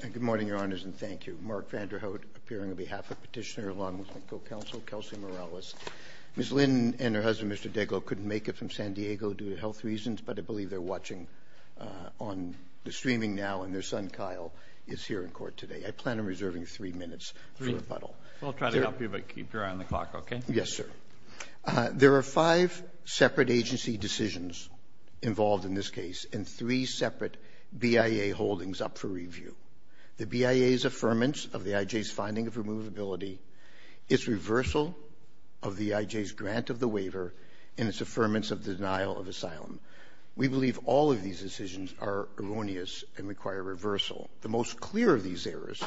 Good morning, Your Honors, and thank you. Mark Vanderhout, appearing on behalf of Petitioner along with my co-counsel, Kelsey Morales. Ms. Lin and her husband, Mr. Deglow, couldn't make it from San Diego due to health reasons, but I believe they're watching on the streaming now and their son, Kyle, is here in court today. I plan on reserving three minutes for rebuttal. I'll try to help you, but keep your eye on the clock, okay? Yes, sir. There are five separate agency decisions involved in this case, and three separate BIA holdings up for review. The BIA's affirmance of the I.J.'s finding of removability, its reversal of the I.J.'s grant of the waiver, and its affirmance of the denial of asylum. We believe all of these decisions are erroneous and require reversal. The most clear of these errors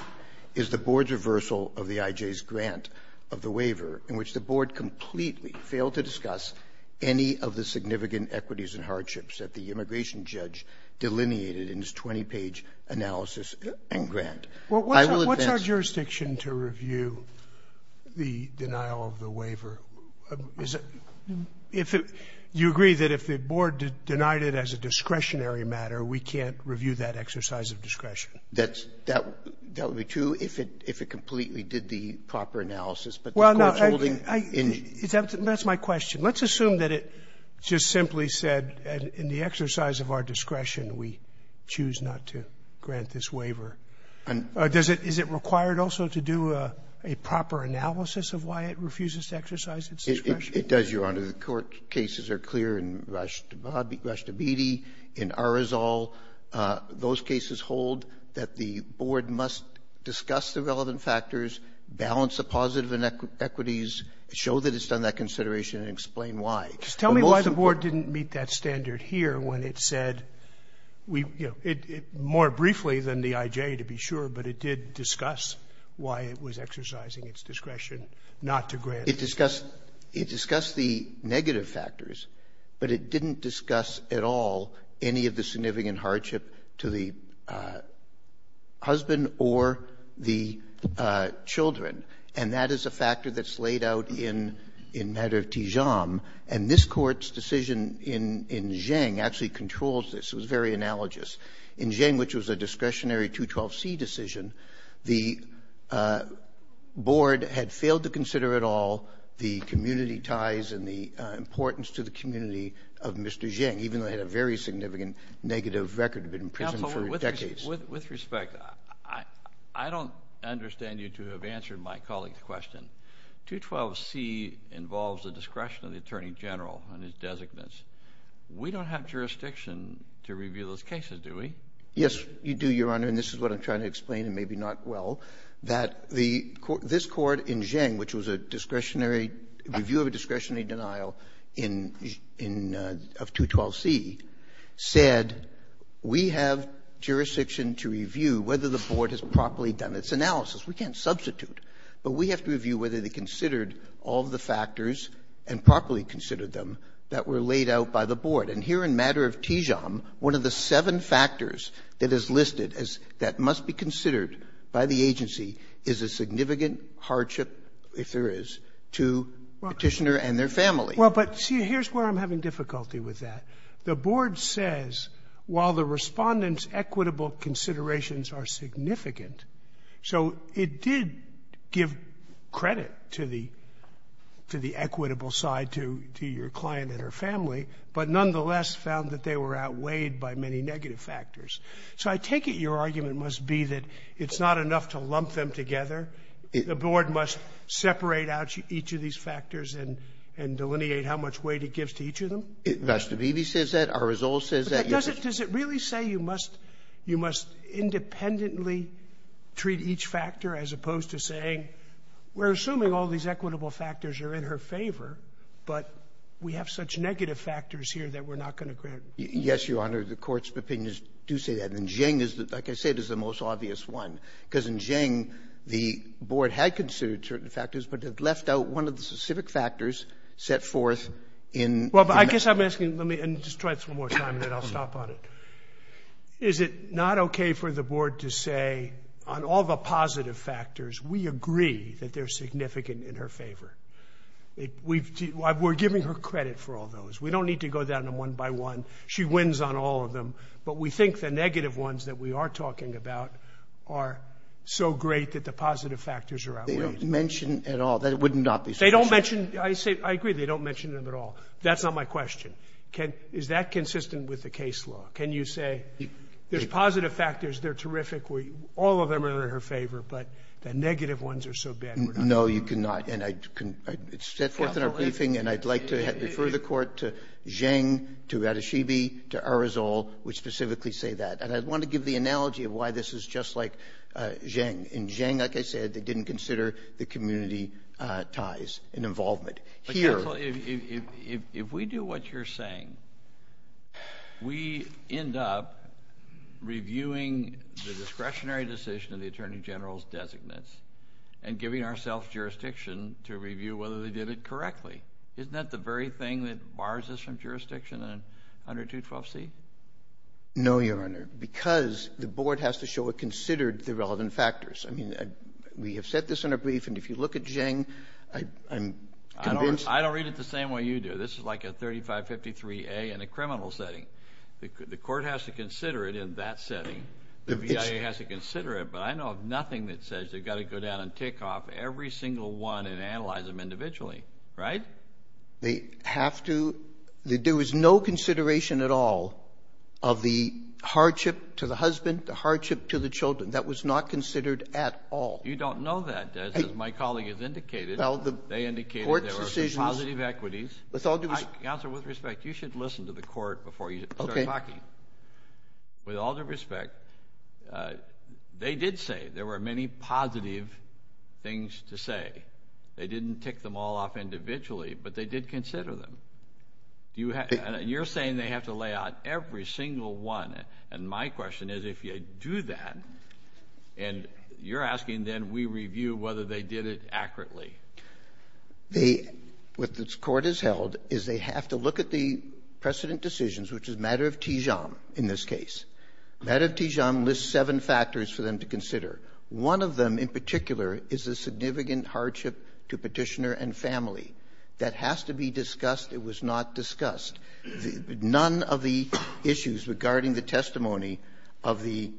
is the Board's reversal of the I.J.'s grant of the waiver, in which the Board completely failed to discuss any of the significant equities and hardships that the immigration judge delineated in his 20-page analysis and grant. I will advance — What's our jurisdiction to review the denial of the waiver? Is it — do you agree that if the Board denied it as a discretionary matter, we can't review that exercise of discretion? That's — that would be true if it completely did the proper analysis, but the court's holding — Well, no, I — that's my question. Let's assume that it just simply said in the exercise of our discretion we choose not to grant this waiver. And — Does it — is it required also to do a proper analysis of why it refuses to exercise its discretion? It does, Your Honor. The court cases are clear in Rashtabidi, in Arizal. Those cases hold that the Board must discuss the relevant factors, balance the positive inequities, show that it's done that consideration, and explain why. Just tell me why the Board didn't meet that standard here when it said we — more briefly than the I.J., to be sure, but it did discuss why it was exercising its discretion not to grant. It discussed — it discussed the negative factors, but it didn't discuss at all any of the significant hardship to the husband or the children. And that is a factor that's laid out in — in matter of Tijam. And this Court's decision in — in Zheng actually controls this. It was very analogous. In Zheng, which was a discretionary 212C decision, the Board had failed to consider at all the community ties and the importance to the community of Mr. Zheng, even though he had a very significant negative record, had been in prison for decades. With respect, I don't understand you to have answered my colleague's question. 212C involves the discretion of the Attorney General and his designates. We don't have jurisdiction to review those cases, do we? Yes, you do, Your Honor. And this is what I'm trying to explain, and maybe not well, that the — this Court in Zheng, which was a discretionary — review of a discretionary denial in — in — of 212C, said, we have jurisdiction to review whether the Board has properly done its analysis. We can't substitute. But we have to review whether they considered all of the factors and properly considered them that were laid out by the Board. And here in matter of Tijam, one of the seven factors that is listed as — that must be considered by the agency is a significant hardship, if there is, to petitioner and their family. Well, but see, here's where I'm having difficulty with that. The Board says, while the Respondent's equitable considerations are significant, so it did give credit to the — to the equitable side to — to your client and her family, but nonetheless found that they were outweighed by many negative factors. So I take it your argument must be that it's not enough to lump them together. The Board must separate out each of these factors and — and delineate how much weight it gives to each of them? Mr. Beebe says that. Our result says that. But does it — does it really say you must — you must independently treat each factor as opposed to saying, we're assuming all these equitable factors are in her favor, but we have such negative factors here that we're not going to grant — Yes, Your Honor. The Court's opinions do say that. And Zheng is the — like I said, is the most obvious one. Because in Zheng, the Board had considered certain factors, but had left out one of the specific factors set forth in — Well, but I guess I'm asking — let me — and just try this one more time, and then I'll stop on it. Is it not okay for the Board to say, on all the positive factors, we agree that they're significant in her favor? We've — we're giving her credit for all those. We don't need to go down them one by one. She wins on all of them. But we think the negative ones that we are talking about are so great that the positive factors are outweighed. They don't mention at all. That would not be sufficient. They don't mention — I say — I agree they don't mention them at all. That's not my question. Can — is that consistent with the case law? Can you say, there's positive factors, they're terrific, all of them are in her favor, but the negative ones are so bad, we're not — No, you cannot. And I — it's set forth in our briefing, and I'd like to refer the Court to specifically say that. And I want to give the analogy of why this is just like Zheng. In Zheng, like I said, they didn't consider the community ties and involvement. But counsel, if we do what you're saying, we end up reviewing the discretionary decision of the Attorney General's designates and giving ourselves jurisdiction to review whether they did it correctly. Isn't that the very thing that bars us from jurisdiction in 100212C? No, Your Honor, because the Board has to show it considered the relevant factors. I mean, we have set this in our briefing. If you look at Zheng, I'm convinced — I don't read it the same way you do. This is like a 3553A in a criminal setting. The Court has to consider it in that setting. The BIA has to consider it. But I know of nothing that says they've got to go down and tick off every single one and analyze them individually, right? They have to — there was no consideration at all of the hardship to the husband, the hardship to the children. That was not considered at all. You don't know that, as my colleague has indicated. They indicated there were some positive equities. Counsel, with respect, you should listen to the Court before you start talking. With all due respect, they did say there were many positive things to say. They didn't tick them all off individually, but they did consider them. You're saying they have to lay out every single one. And my question is, if you do that, and you're asking, then we review whether they did it accurately. What this Court has held is they have to look at the precedent decisions, which is matter of Tijam in this case. Matter of Tijam lists seven factors for them to consider. One of them, in particular, is a significant hardship to petitioner and family. That has to be discussed. It was not discussed. None of the issues regarding the testimony of the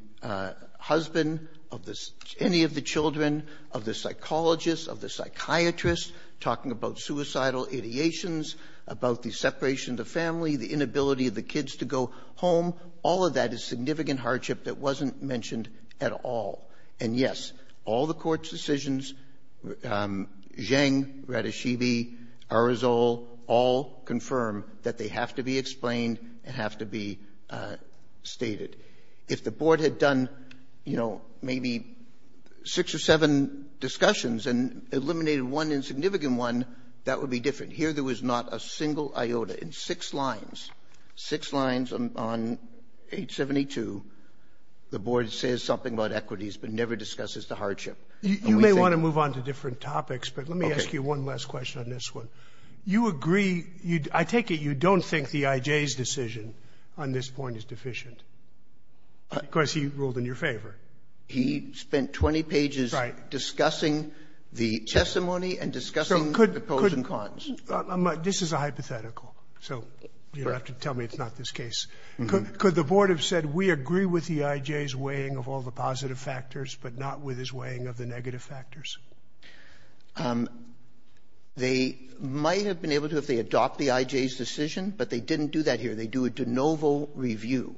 husband, of any of the children, of the psychologists, of the psychiatrists, talking about suicidal ideations, about the separation of the family, the inability of the kids to go home, all of that is significant hardship that wasn't mentioned at all. Yes, all the Court's decisions, Zheng, Ratashibi, Arizal, all confirm that they have to be explained and have to be stated. If the Board had done, you know, maybe six or seven discussions and eliminated one insignificant one, that would be different. Here, there was not a single iota. In six lines, six lines on 872, the Board says something about equities, but never discusses the hardship. You may want to move on to different topics, but let me ask you one last question on this one. You agree, I take it you don't think the IJ's decision on this point is deficient? Because he ruled in your favor. He spent 20 pages discussing the testimony and discussing the pros and cons. This is a hypothetical, so you don't have to tell me it's not this case. Could the Board have said we agree with the IJ's weighing of all the positive factors, but not with his weighing of the negative factors? They might have been able to if they adopt the IJ's decision, but they didn't do that here. They do a de novo review.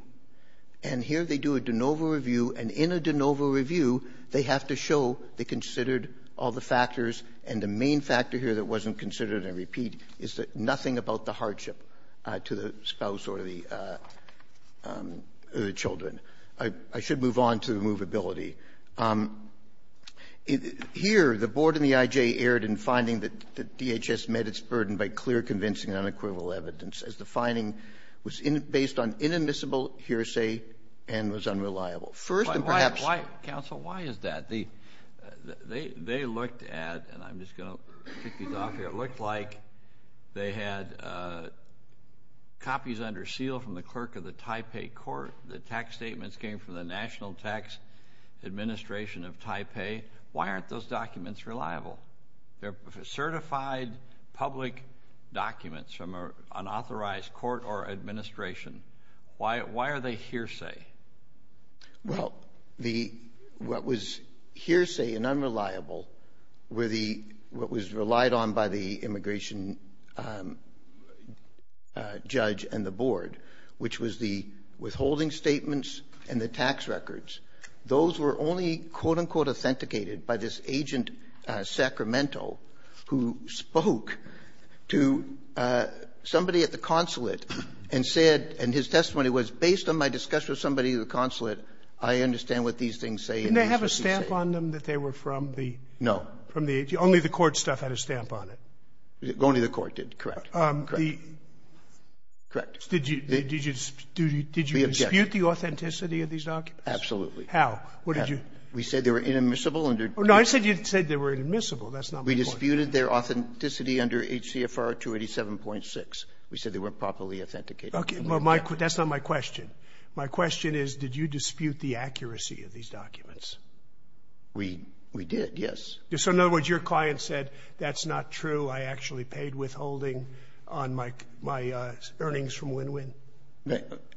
And here they do a de novo review, and in a de novo review, they have to show they considered all the factors. And the main factor here that wasn't considered, and I repeat, is that nothing about the hardship to the spouse or the children. I should move on to the movability. Here, the Board and the IJ erred in finding that the DHS met its burden by clear convincing unequivocal evidence, as the finding was based on inadmissible hearsay and was unreliable. First, and perhaps... Why, counsel, why is that? They looked at, and I'm just going to kick these off here, looked like they had copies under seal from the clerk of the Taipei court. The tax statements came from the National Tax Administration of Taipei. Why aren't those documents reliable? They're certified public documents from an authorized court or administration. Why are they hearsay? Well, what was hearsay and unreliable were the... what was relied on by the immigration judge and the Board, which was the withholding statements and the tax records. Those were only, quote-unquote, authenticated by this agent, Sacramento, who spoke to somebody at the consulate and said... I understand what these things say and that's what he said. Didn't they have a stamp on them that they were from the... No. ...from the agency? Only the court stuff had a stamp on it. Only the court did, correct. Correct. Did you dispute the authenticity of these documents? Absolutely. How? What did you... We said they were inadmissible under... No, I said you said they were inadmissible. That's not my point. We disputed their authenticity under HCFR 287.6. We said they weren't properly authenticated. Okay. Well, that's not my question. My question is, did you dispute the accuracy of these documents? We did, yes. So in other words, your client said, that's not true. I actually paid withholding on my earnings from Win-Win?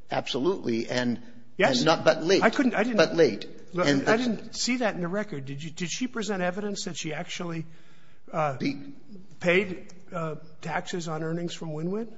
Absolutely. And... Yes. ...but late. I couldn't... But late. I didn't see that in the record. Did she present evidence that she actually paid taxes on earnings from Win-Win?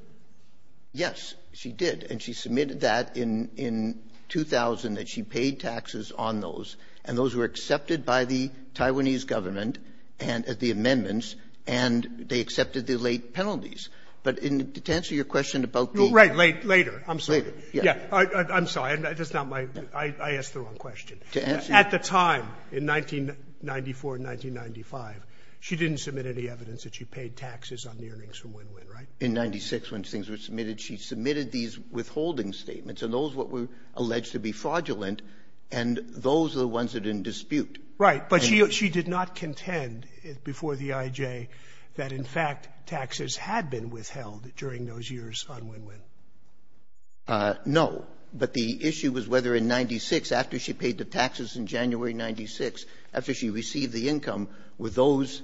Yes, she did. And she submitted that in 2000, that she paid taxes on those, and those were accepted by the Taiwanese government and the amendments, and they accepted the late penalties. But to answer your question about the... Right. Late. Later. I'm sorry. Later. Yes. I'm sorry. That's not my... I asked the wrong question. To answer... At the time, in 1994 and 1995, she didn't submit any evidence that she paid taxes on the earnings from Win-Win, right? In 1996, when things were submitted, she submitted these withholding statements, and those were what were alleged to be fraudulent, and those are the ones that didn't dispute. Right. But she did not contend before the I.J. that, in fact, taxes had been withheld during those years on Win-Win. No. But the issue was whether in 1996, after she paid the taxes in January 1996, after she received the income, were those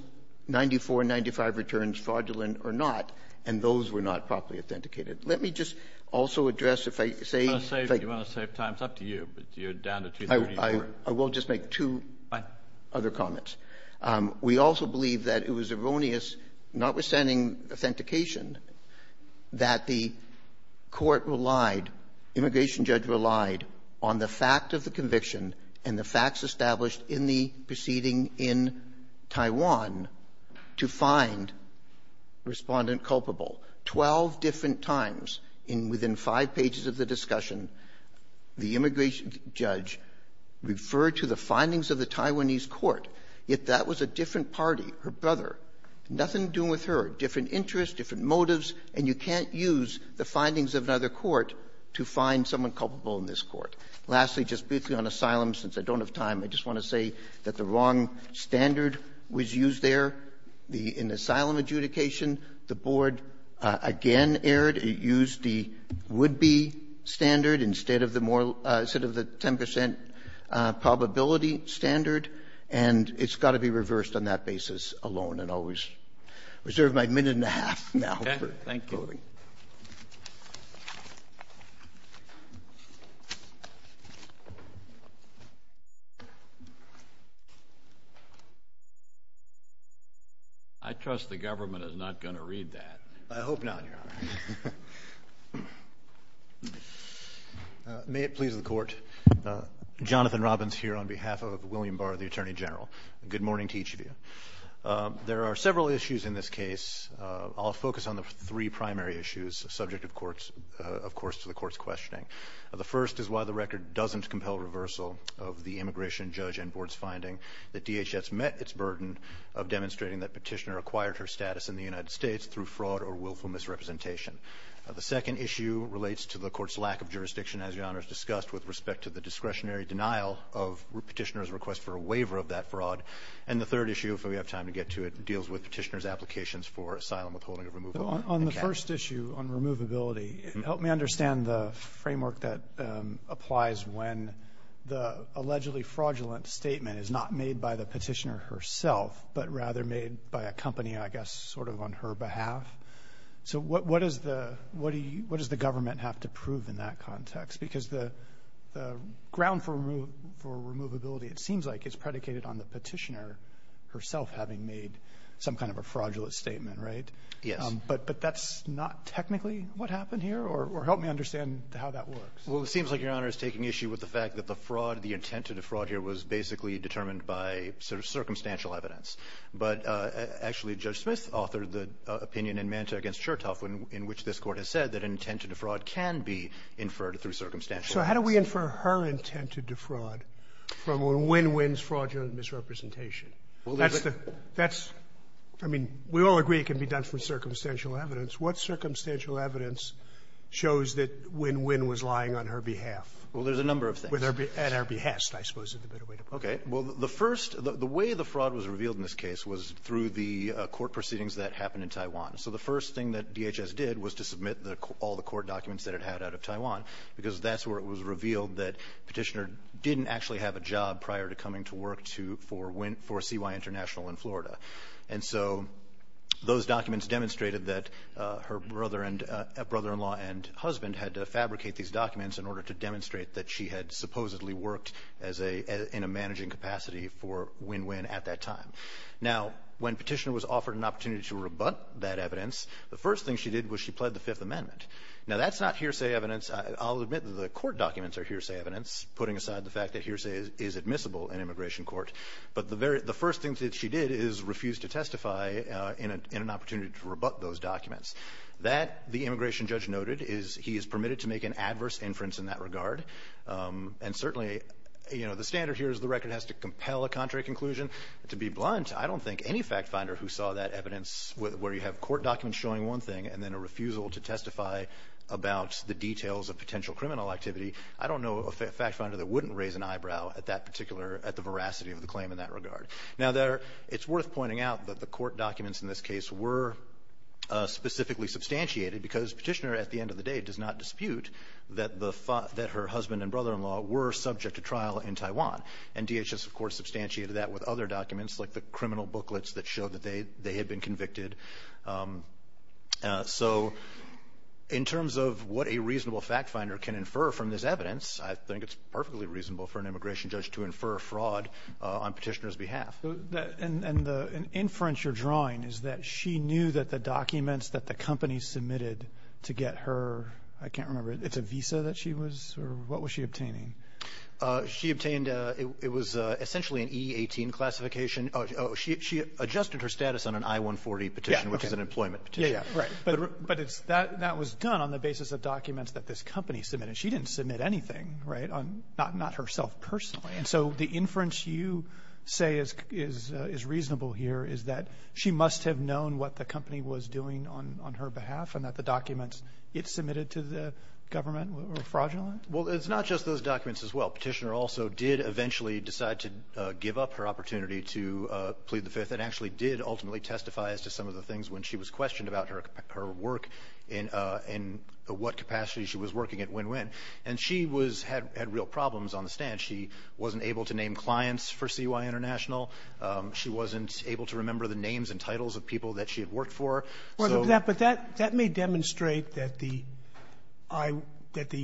1994 and 1995 returns fraudulent or not, and those were not properly authenticated. Let me just also address, if I say... You want to save time? It's up to you, but you're down to 234. I will just make two other comments. We also believe that it was erroneous, notwithstanding authentication, that the court relied, immigration judge relied, on the fact of the conviction and the facts established in the proceeding in Taiwan, to find Respondent culpable. Twelve different times in within five pages of the discussion, the immigration judge referred to the findings of the Taiwanese court, yet that was a different party, her brother. Nothing to do with her. Different interests, different motives, and you can't use the findings of another court to find someone culpable in this court. Lastly, just briefly on asylum, since I don't have time, I just want to say that the wrong standard was used there. In asylum adjudication, the board again erred. It used the would-be standard instead of the 10 percent probability standard, and it's got to be reversed on that basis alone, and I'll reserve my minute and a half now for closing. I trust the government is not going to read that. I hope not, Your Honor. May it please the court. Jonathan Robbins here on behalf of William Barr, the Attorney General. Good morning to each of you. There are several issues in this case. I'll focus on the three primary issues subject, of course, to the court's questioning. The first is why the record doesn't compel reversal of the immigration judge and board's finding that DHS met its burden of demonstrating that Petitioner acquired her status in the United States through fraud or willful misrepresentation. The second issue relates to the court's lack of jurisdiction, as Your Honor has discussed, with respect to the discretionary denial of Petitioner's request for a waiver of that fraud. And the third issue, if we have time to get to it, deals with Petitioner's applications for asylum withholding or removal. On the first issue, on removability, help me understand the framework that applies when the allegedly fraudulent statement is not made by the Petitioner herself, but rather made by a company, I guess, sort of on her behalf. So what does the government have to prove in that context? Because the ground for removability, it seems like, is predicated on the Petitioner herself having made some kind of a fraudulent statement, right? Yes. But that's not technically what happened here? Or help me understand how that works. Well, it seems like Your Honor is taking issue with the fact that the fraud, the intent to defraud here, was basically determined by sort of circumstantial evidence. But actually, Judge Smith authored the opinion in Manta v. Chertoff in which this So how do we infer her intent to defraud from when Wyn Wyn's fraudulent misrepresentation? That's the – that's – I mean, we all agree it can be done from circumstantial evidence. What circumstantial evidence shows that Wyn Wyn was lying on her behalf? Well, there's a number of things. At her behest, I suppose, is the better way to put it. Okay. Well, the first – the way the fraud was revealed in this case was through the court proceedings that happened in Taiwan. So the first thing that DHS did was to submit all the court documents that it had out of Taiwan, because that's where it was revealed that Petitioner didn't actually have a job prior to coming to work to – for CY International in Florida. And so those documents demonstrated that her brother and – brother-in-law and husband had to fabricate these documents in order to demonstrate that she had supposedly worked as a – in a managing capacity for Wyn Wyn at that time. Now, when Petitioner was offered an opportunity to rebut that evidence, the first thing she did was she pled the Fifth Amendment. Now, that's not hearsay evidence. I'll admit that the court documents are hearsay evidence, putting aside the fact that hearsay is admissible in immigration court. But the very – the first thing that she did is refuse to testify in an opportunity to rebut those documents. That, the immigration judge noted, is he is permitted to make an adverse inference in that regard. And certainly, you know, the standard here is the record has to compel a contrary conclusion. To be blunt, I don't think any factfinder who saw that evidence where you have court documents showing one thing and then a refusal to testify about the details of potential criminal activity, I don't know a factfinder that wouldn't raise an eyebrow at that particular – at the veracity of the claim in that regard. Now, there – it's worth pointing out that the court documents in this case were specifically substantiated because Petitioner, at the end of the day, does not dispute that the – that her husband and brother-in-law were subject to trial in Taiwan. And DHS, of course, substantiated that with other documents, like the criminal So in terms of what a reasonable factfinder can infer from this evidence, I think it's perfectly reasonable for an immigration judge to infer fraud on Petitioner's behalf. And the inference you're drawing is that she knew that the documents that the company submitted to get her – I can't remember, it's a visa that she was – or what was she obtaining? She obtained – it was essentially an E-18 classification. Oh, she adjusted her status on an I-140 petition, which is an employment petition. Yeah, yeah, right. But it's – that was done on the basis of documents that this company submitted. She didn't submit anything, right, on – not herself personally. And so the inference you say is reasonable here is that she must have known what the company was doing on her behalf and that the documents it submitted to the government were fraudulent? Well, it's not just those documents as well. Petitioner also did eventually decide to give up her opportunity to plead the fifth and actually did ultimately testify as to some of the things when she was questioned about her work and what capacity she was working at Win-Win. And she was – had real problems on the stand. She wasn't able to name clients for CUI International. She wasn't able to remember the names and titles of people that she had worked for. Well, but that may demonstrate that the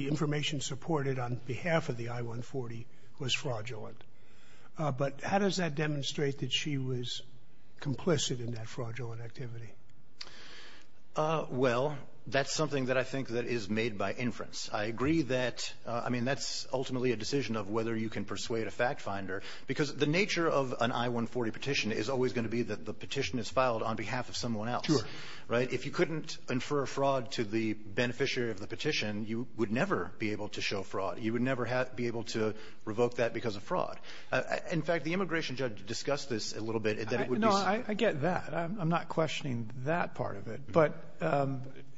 information supported on behalf of the I-140 was fraudulent. But how does that demonstrate that she was complicit in that fraudulent activity? Well, that's something that I think that is made by inference. I agree that – I mean, that's ultimately a decision of whether you can persuade a fact finder. Because the nature of an I-140 petition is always going to be that the petition is filed on behalf of someone else. Sure. Right? If you couldn't infer fraud to the beneficiary of the petition, you would never be able to show fraud. You would never be able to revoke that because of fraud. In fact, the immigration judge discussed this a little bit. No, I get that. I'm not questioning that part of it. But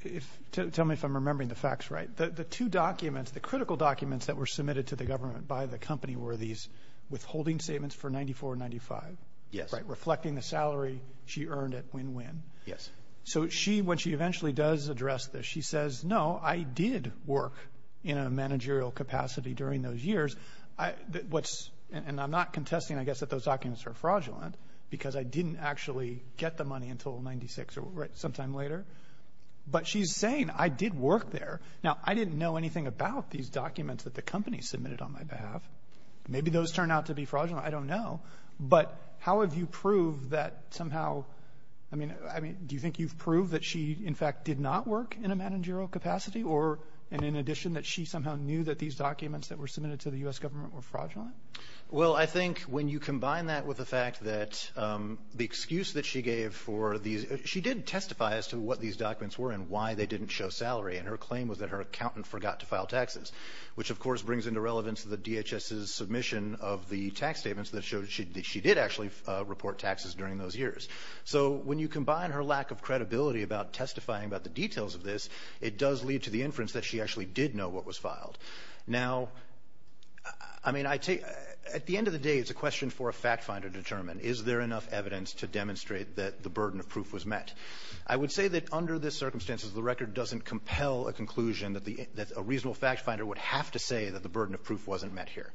if – tell me if I'm remembering the facts right. The two documents, the critical documents that were submitted to the government by the company were these withholding statements for $94.95. Yes. Right? Reflecting the salary she earned at Win-Win. Yes. So she, when she eventually does address this, she says, no, I did work in a managerial capacity during those years. What's – and I'm not contesting, I guess, that those documents are fraudulent because I didn't actually get the money until 96 or sometime later. But she's saying, I did work there. Now, I didn't know anything about these documents that the company submitted on my behalf. Maybe those turned out to be fraudulent. I don't know. But how have you proved that somehow – I mean, do you think you've proved that she, in fact, did not work in a managerial capacity? Or – and in addition, that she somehow knew that these documents that were submitted to the U.S. government were fraudulent? Well, I think when you combine that with the fact that the excuse that she gave for these – she did testify as to what these documents were and why they didn't show salary. And her claim was that her accountant forgot to file taxes, which, of course, brings into relevance the DHS's submission of the tax statements that showed that she did actually report taxes during those years. So when you combine her lack of credibility about testifying about the inference that she actually did know what was filed – now, I mean, I take – at the end of the day, it's a question for a fact-finder to determine. Is there enough evidence to demonstrate that the burden of proof was met? I would say that under the circumstances, the record doesn't compel a conclusion that the – that a reasonable fact-finder would have to say that the burden of proof wasn't met here.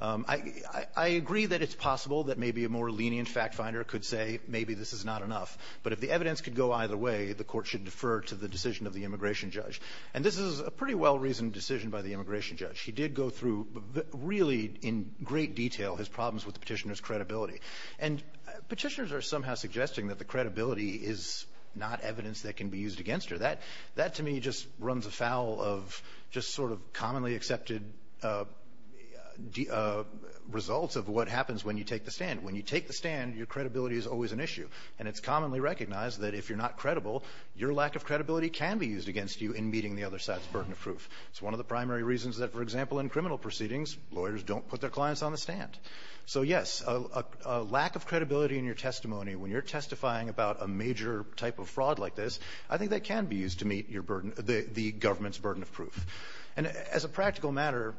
I agree that it's possible that maybe a more lenient fact-finder could say maybe this is not enough. But if the evidence could go either way, the Court should defer to the decision of the immigration judge. And this is a pretty well-reasoned decision by the immigration judge. He did go through really in great detail his problems with the petitioner's credibility. And petitioners are somehow suggesting that the credibility is not evidence that can be used against her. That, to me, just runs afoul of just sort of commonly accepted results of what happens when you take the stand. When you take the stand, your credibility is always an issue. And it's commonly recognized that if you're not credible, your lack of credibility can be used against you in meeting the other side's burden of proof. It's one of the primary reasons that, for example, in criminal proceedings, lawyers don't put their clients on the stand. So, yes, a lack of credibility in your testimony when you're testifying about a major type of fraud like this, I think that can be used to meet your burden – the government's burden of proof. And as a practical matter,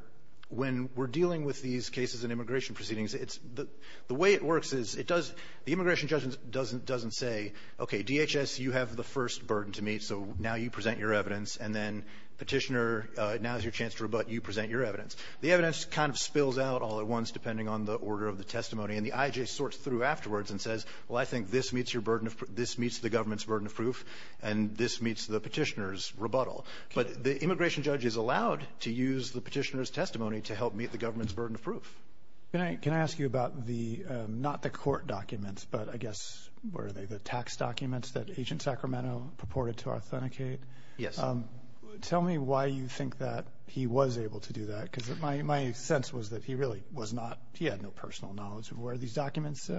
when we're dealing with these cases in immigration proceedings, it's the way it works is it does – the immigration judge doesn't say, okay, DHS, you have the first burden to meet. So now you present your evidence. And then petitioner, now's your chance to rebutt. You present your evidence. The evidence kind of spills out all at once, depending on the order of the testimony. And the IJ sorts through afterwards and says, well, I think this meets your burden of – this meets the government's burden of proof. And this meets the petitioner's rebuttal. But the immigration judge is allowed to use the petitioner's testimony to help meet the government's burden of proof. Can I ask you about the – not the court documents, but I guess, where are they, the tax documents that Agent Sacramento purported to authenticate? Yes. Tell me why you think that he was able to do that, because my sense was that he really was not – he had no personal knowledge of where these documents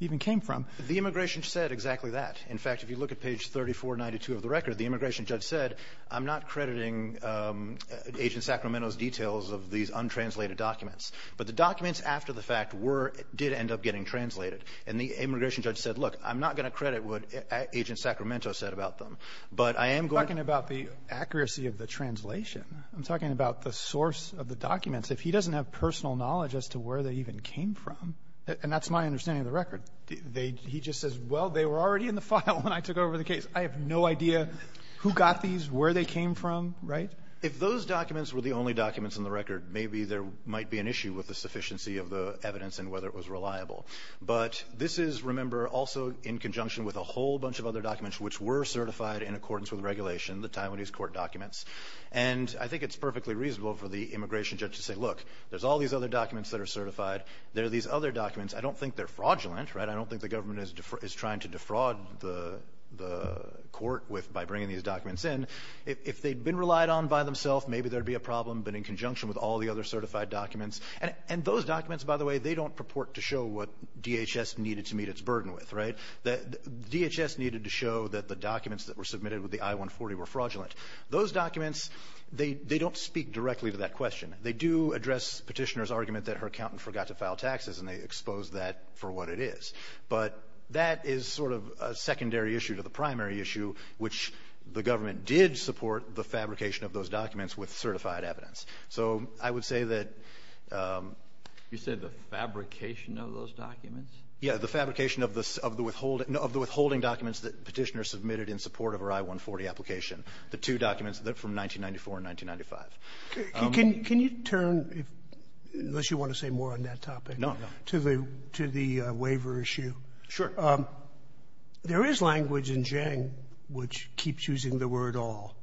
even came from. The immigration said exactly that. In fact, if you look at page 3492 of the record, the immigration judge said, I'm not crediting Agent Sacramento's details of these untranslated documents. But the documents after the fact were – did end up getting translated. And the immigration judge said, look, I'm not going to credit what Agent Sacramento said about them. But I am going to – I'm talking about the accuracy of the translation. I'm talking about the source of the documents. If he doesn't have personal knowledge as to where they even came from – and that's my understanding of the record. They – he just says, well, they were already in the file when I took over the case. I have no idea who got these, where they came from, right? If those documents were the only documents in the record, maybe there might be an issue with the sufficiency of the evidence and whether it was reliable. But this is, remember, also in conjunction with a whole bunch of other documents which were certified in accordance with regulation, the Taiwanese court documents. And I think it's perfectly reasonable for the immigration judge to say, look, there's all these other documents that are certified. There are these other documents. I don't think they're fraudulent, right? I don't think the government is trying to defraud the court with – by bringing these documents in. If they'd been relied on by themselves, maybe there'd be a problem. But in conjunction with all the other certified documents – and those documents, by the way, they don't purport to show what DHS needed to meet its burden with, right? DHS needed to show that the documents that were submitted with the I-140 were fraudulent. Those documents, they don't speak directly to that question. They do address Petitioner's argument that her accountant forgot to file taxes, and they expose that for what it is. But that is sort of a secondary issue to the primary issue, which the government did support the fabrication of those documents with certified evidence. So I would say that – You said the fabrication of those documents? Yeah, the fabrication of the withholding – of the withholding documents that Petitioner submitted in support of her I-140 application. The two documents from 1994 and 1995. Can you turn, unless you want to say more on that topic, to the waiver issue? Sure. There is language in GENG which keeps using the word all.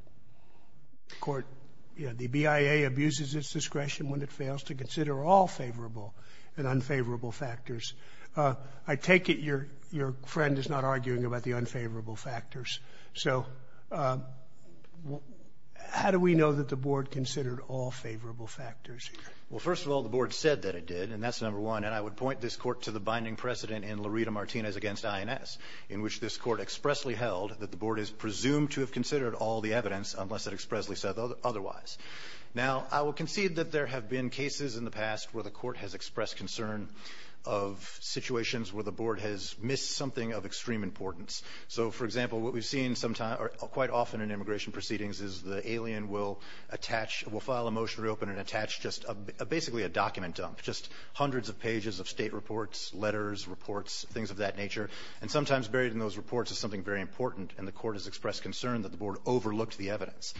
The court – the BIA abuses its discretion when it fails to consider all favorable and unfavorable factors. I take it your friend is not arguing about the unfavorable factors. So how do we know that the board considered all favorable factors? Well, first of all, the board said that it did, and that's number one. And I would point this court to the binding precedent in Laredo-Martinez against INS, in which this court expressly held that the board is presumed to have said otherwise. Now I will concede that there have been cases in the past where the court has expressed concern of situations where the board has missed something of extreme importance. So for example, what we've seen quite often in immigration proceedings is the alien will attach – will file a motion to reopen and attach just basically a document dump, just hundreds of pages of state reports, letters, reports, things of that nature, and sometimes buried in those reports is something very important, and the court has expressed concern that the board overlooked the evidence.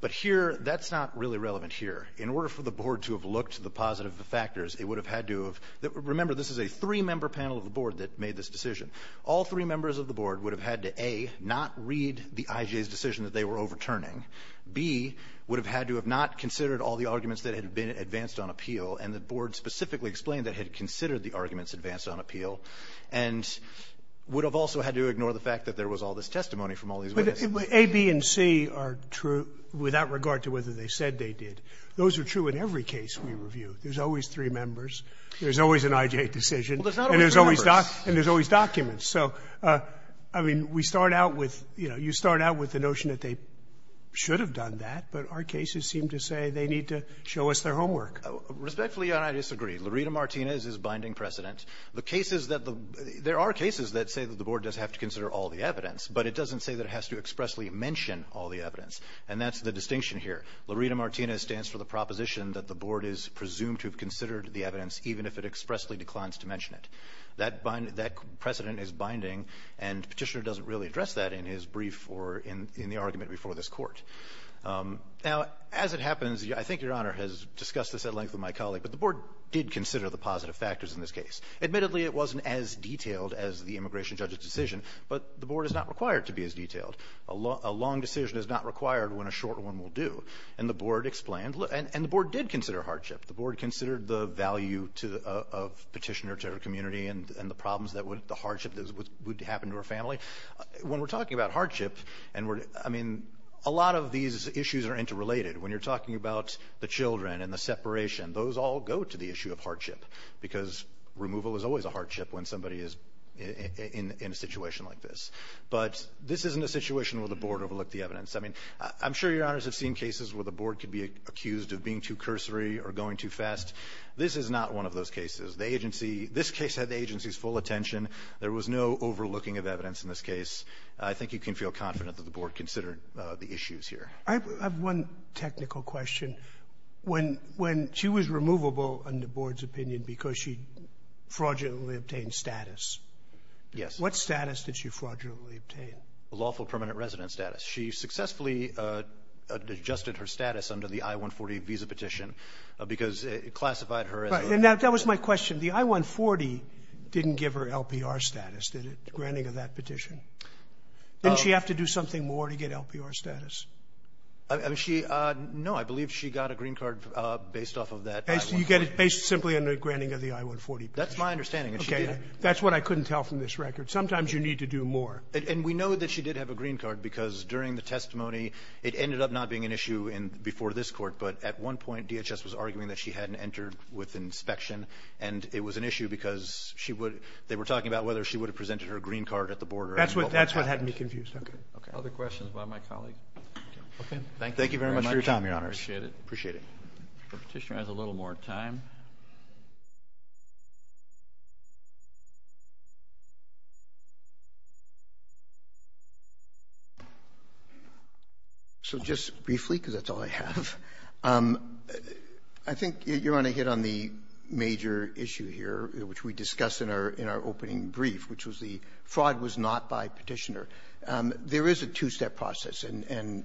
But here, that's not really relevant here. In order for the board to have looked to the positive factors, it would have had to have – remember, this is a three-member panel of the board that made this decision. All three members of the board would have had to, A, not read the IJ's decision that they were overturning. B, would have had to have not considered all the arguments that had been advanced on appeal, and the board specifically explained that it had considered the arguments advanced on appeal, and would have also had to ignore the fact that there was all this testimony from all these witnesses. But A, B, and C are true without regard to whether they said they did. Those are true in every case we review. There's always three members. There's always an IJ decision. Well, there's not always three members. And there's always documents. So, I mean, we start out with – you know, you start out with the notion that they should have done that, but our cases seem to say they need to show us their homework. Respectfully, Your Honor, I disagree. Lurita Martinez is binding precedent. The cases that the – there are cases that say that the board does have to consider all the evidence, but it doesn't say that it has to expressly mention all the evidence. And that's the distinction here. Lurita Martinez stands for the proposition that the board is presumed to have considered the evidence even if it expressly declines to mention it. That precedent is binding, and Petitioner doesn't really address that in his brief or in the argument before this Court. Now, as it happens, I think Your Honor has discussed this at length with my colleague, but the board did consider the positive factors in this case. Admittedly, it wasn't as detailed as the immigration judge's decision, but the board is not required to be as detailed. A long decision is not required when a short one will do. And the board explained – and the board did consider hardship. The board considered the value to – of Petitioner to her community and the problems that would – the hardship that would happen to her family. When we're talking about hardship, and we're – I mean, a lot of these issues are interrelated. When you're talking about the children and the separation, those all go to the issue of hardship because removal is always a hardship when somebody is in a situation like this. But this isn't a situation where the board overlooked the evidence. I mean, I'm sure Your Honors have seen cases where the board could be accused of being too cursory or going too fast. This is not one of those cases. The agency – this case had the agency's full attention. There was no overlooking of evidence in this case. I think you can feel confident that the board considered the issues here. Sotomayor, I have one technical question. When – when she was removable under board's opinion because she fraudulently obtained status, what status did she fraudulently obtain? A lawful permanent resident status. She successfully adjusted her status under the I-140 visa petition because it classified her as a – Right. And that was my question. The I-140 didn't give her LPR status, did it, granting of that petition? Didn't she have to do something more to get LPR status? I mean, she – no. I believe she got a green card based off of that I-140. So you get it based simply under granting of the I-140 petition. That's my understanding, and she did. Okay. That's what I couldn't tell from this record. Sometimes you need to do more. And we know that she did have a green card because during the testimony it ended up not being an issue in – before this Court, but at one point DHS was arguing that she hadn't entered with inspection, and it was an issue because she would – they were talking about whether she would have presented her green card at the border. That's what – that's what had me confused. Okay. Okay. Other questions by my colleague? Okay. Thank you very much. Thank you very much for your time, Your Honors. Appreciate it. Appreciate it. The Petitioner has a little more time. So just briefly, because that's all I have, I think you're on ahead on the major issue here, which we discussed in our – in our opening brief, which was the fraud was not by Petitioner. There is a two-step process, and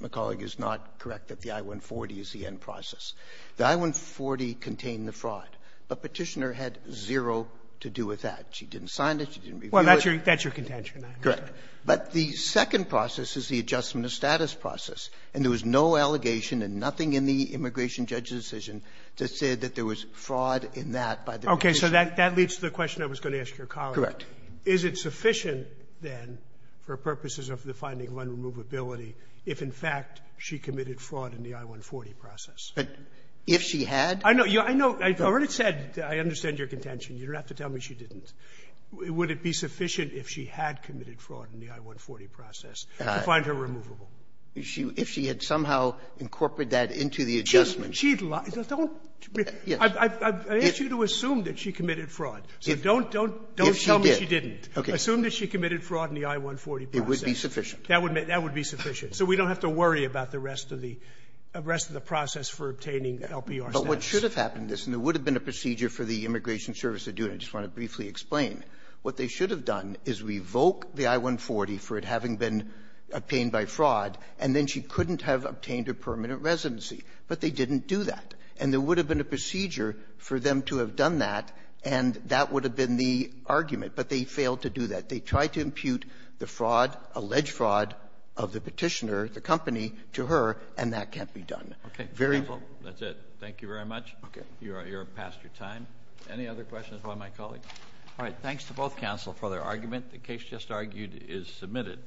my colleague is not correct that the I-140 is the end process. The I-140 contained the fraud, but Petitioner had zero to do with that. She didn't sign it. She didn't review it. Well, that's your – that's your contention, I understand. Correct. But the second process is the adjustment of status process. And there was no allegation and nothing in the immigration judge's decision to say that there was fraud in that by the Petitioner. Okay. So that – that leads to the question I was going to ask your colleague. Correct. Is it sufficient, then, for purposes of the finding of unremovability, if in fact she committed fraud in the I-140 process? If she had? I know. I've already said I understand your contention. You don't have to tell me she didn't. Would it be sufficient if she had committed fraud in the I-140 process to find her removable? If she had somehow incorporated that into the adjustment. She'd lie. Don't. Yes. I've asked you to assume that she committed fraud. So don't – don't tell me she didn't. If she did. Okay. Assume that she committed fraud in the I-140 process. It would be sufficient. That would be sufficient. So we don't have to worry about the rest of the process for obtaining LPR status. But what should have happened is, and there would have been a procedure for the Immigration Service to do, and I just want to briefly explain. What they should have done is revoke the I-140 for it having been obtained by fraud, and then she couldn't have obtained a permanent residency. But they didn't do that. And there would have been a procedure for them to have done that, and that would have been the argument. But they failed to do that. They tried to impute the fraud, alleged fraud, of the Petitioner, the company, to her, and that can't be done. Okay. Very well. Thank you very much. You're past your time. Any other questions by my colleagues? All right. Thanks to both counsel for their argument. The case just argued is submitted.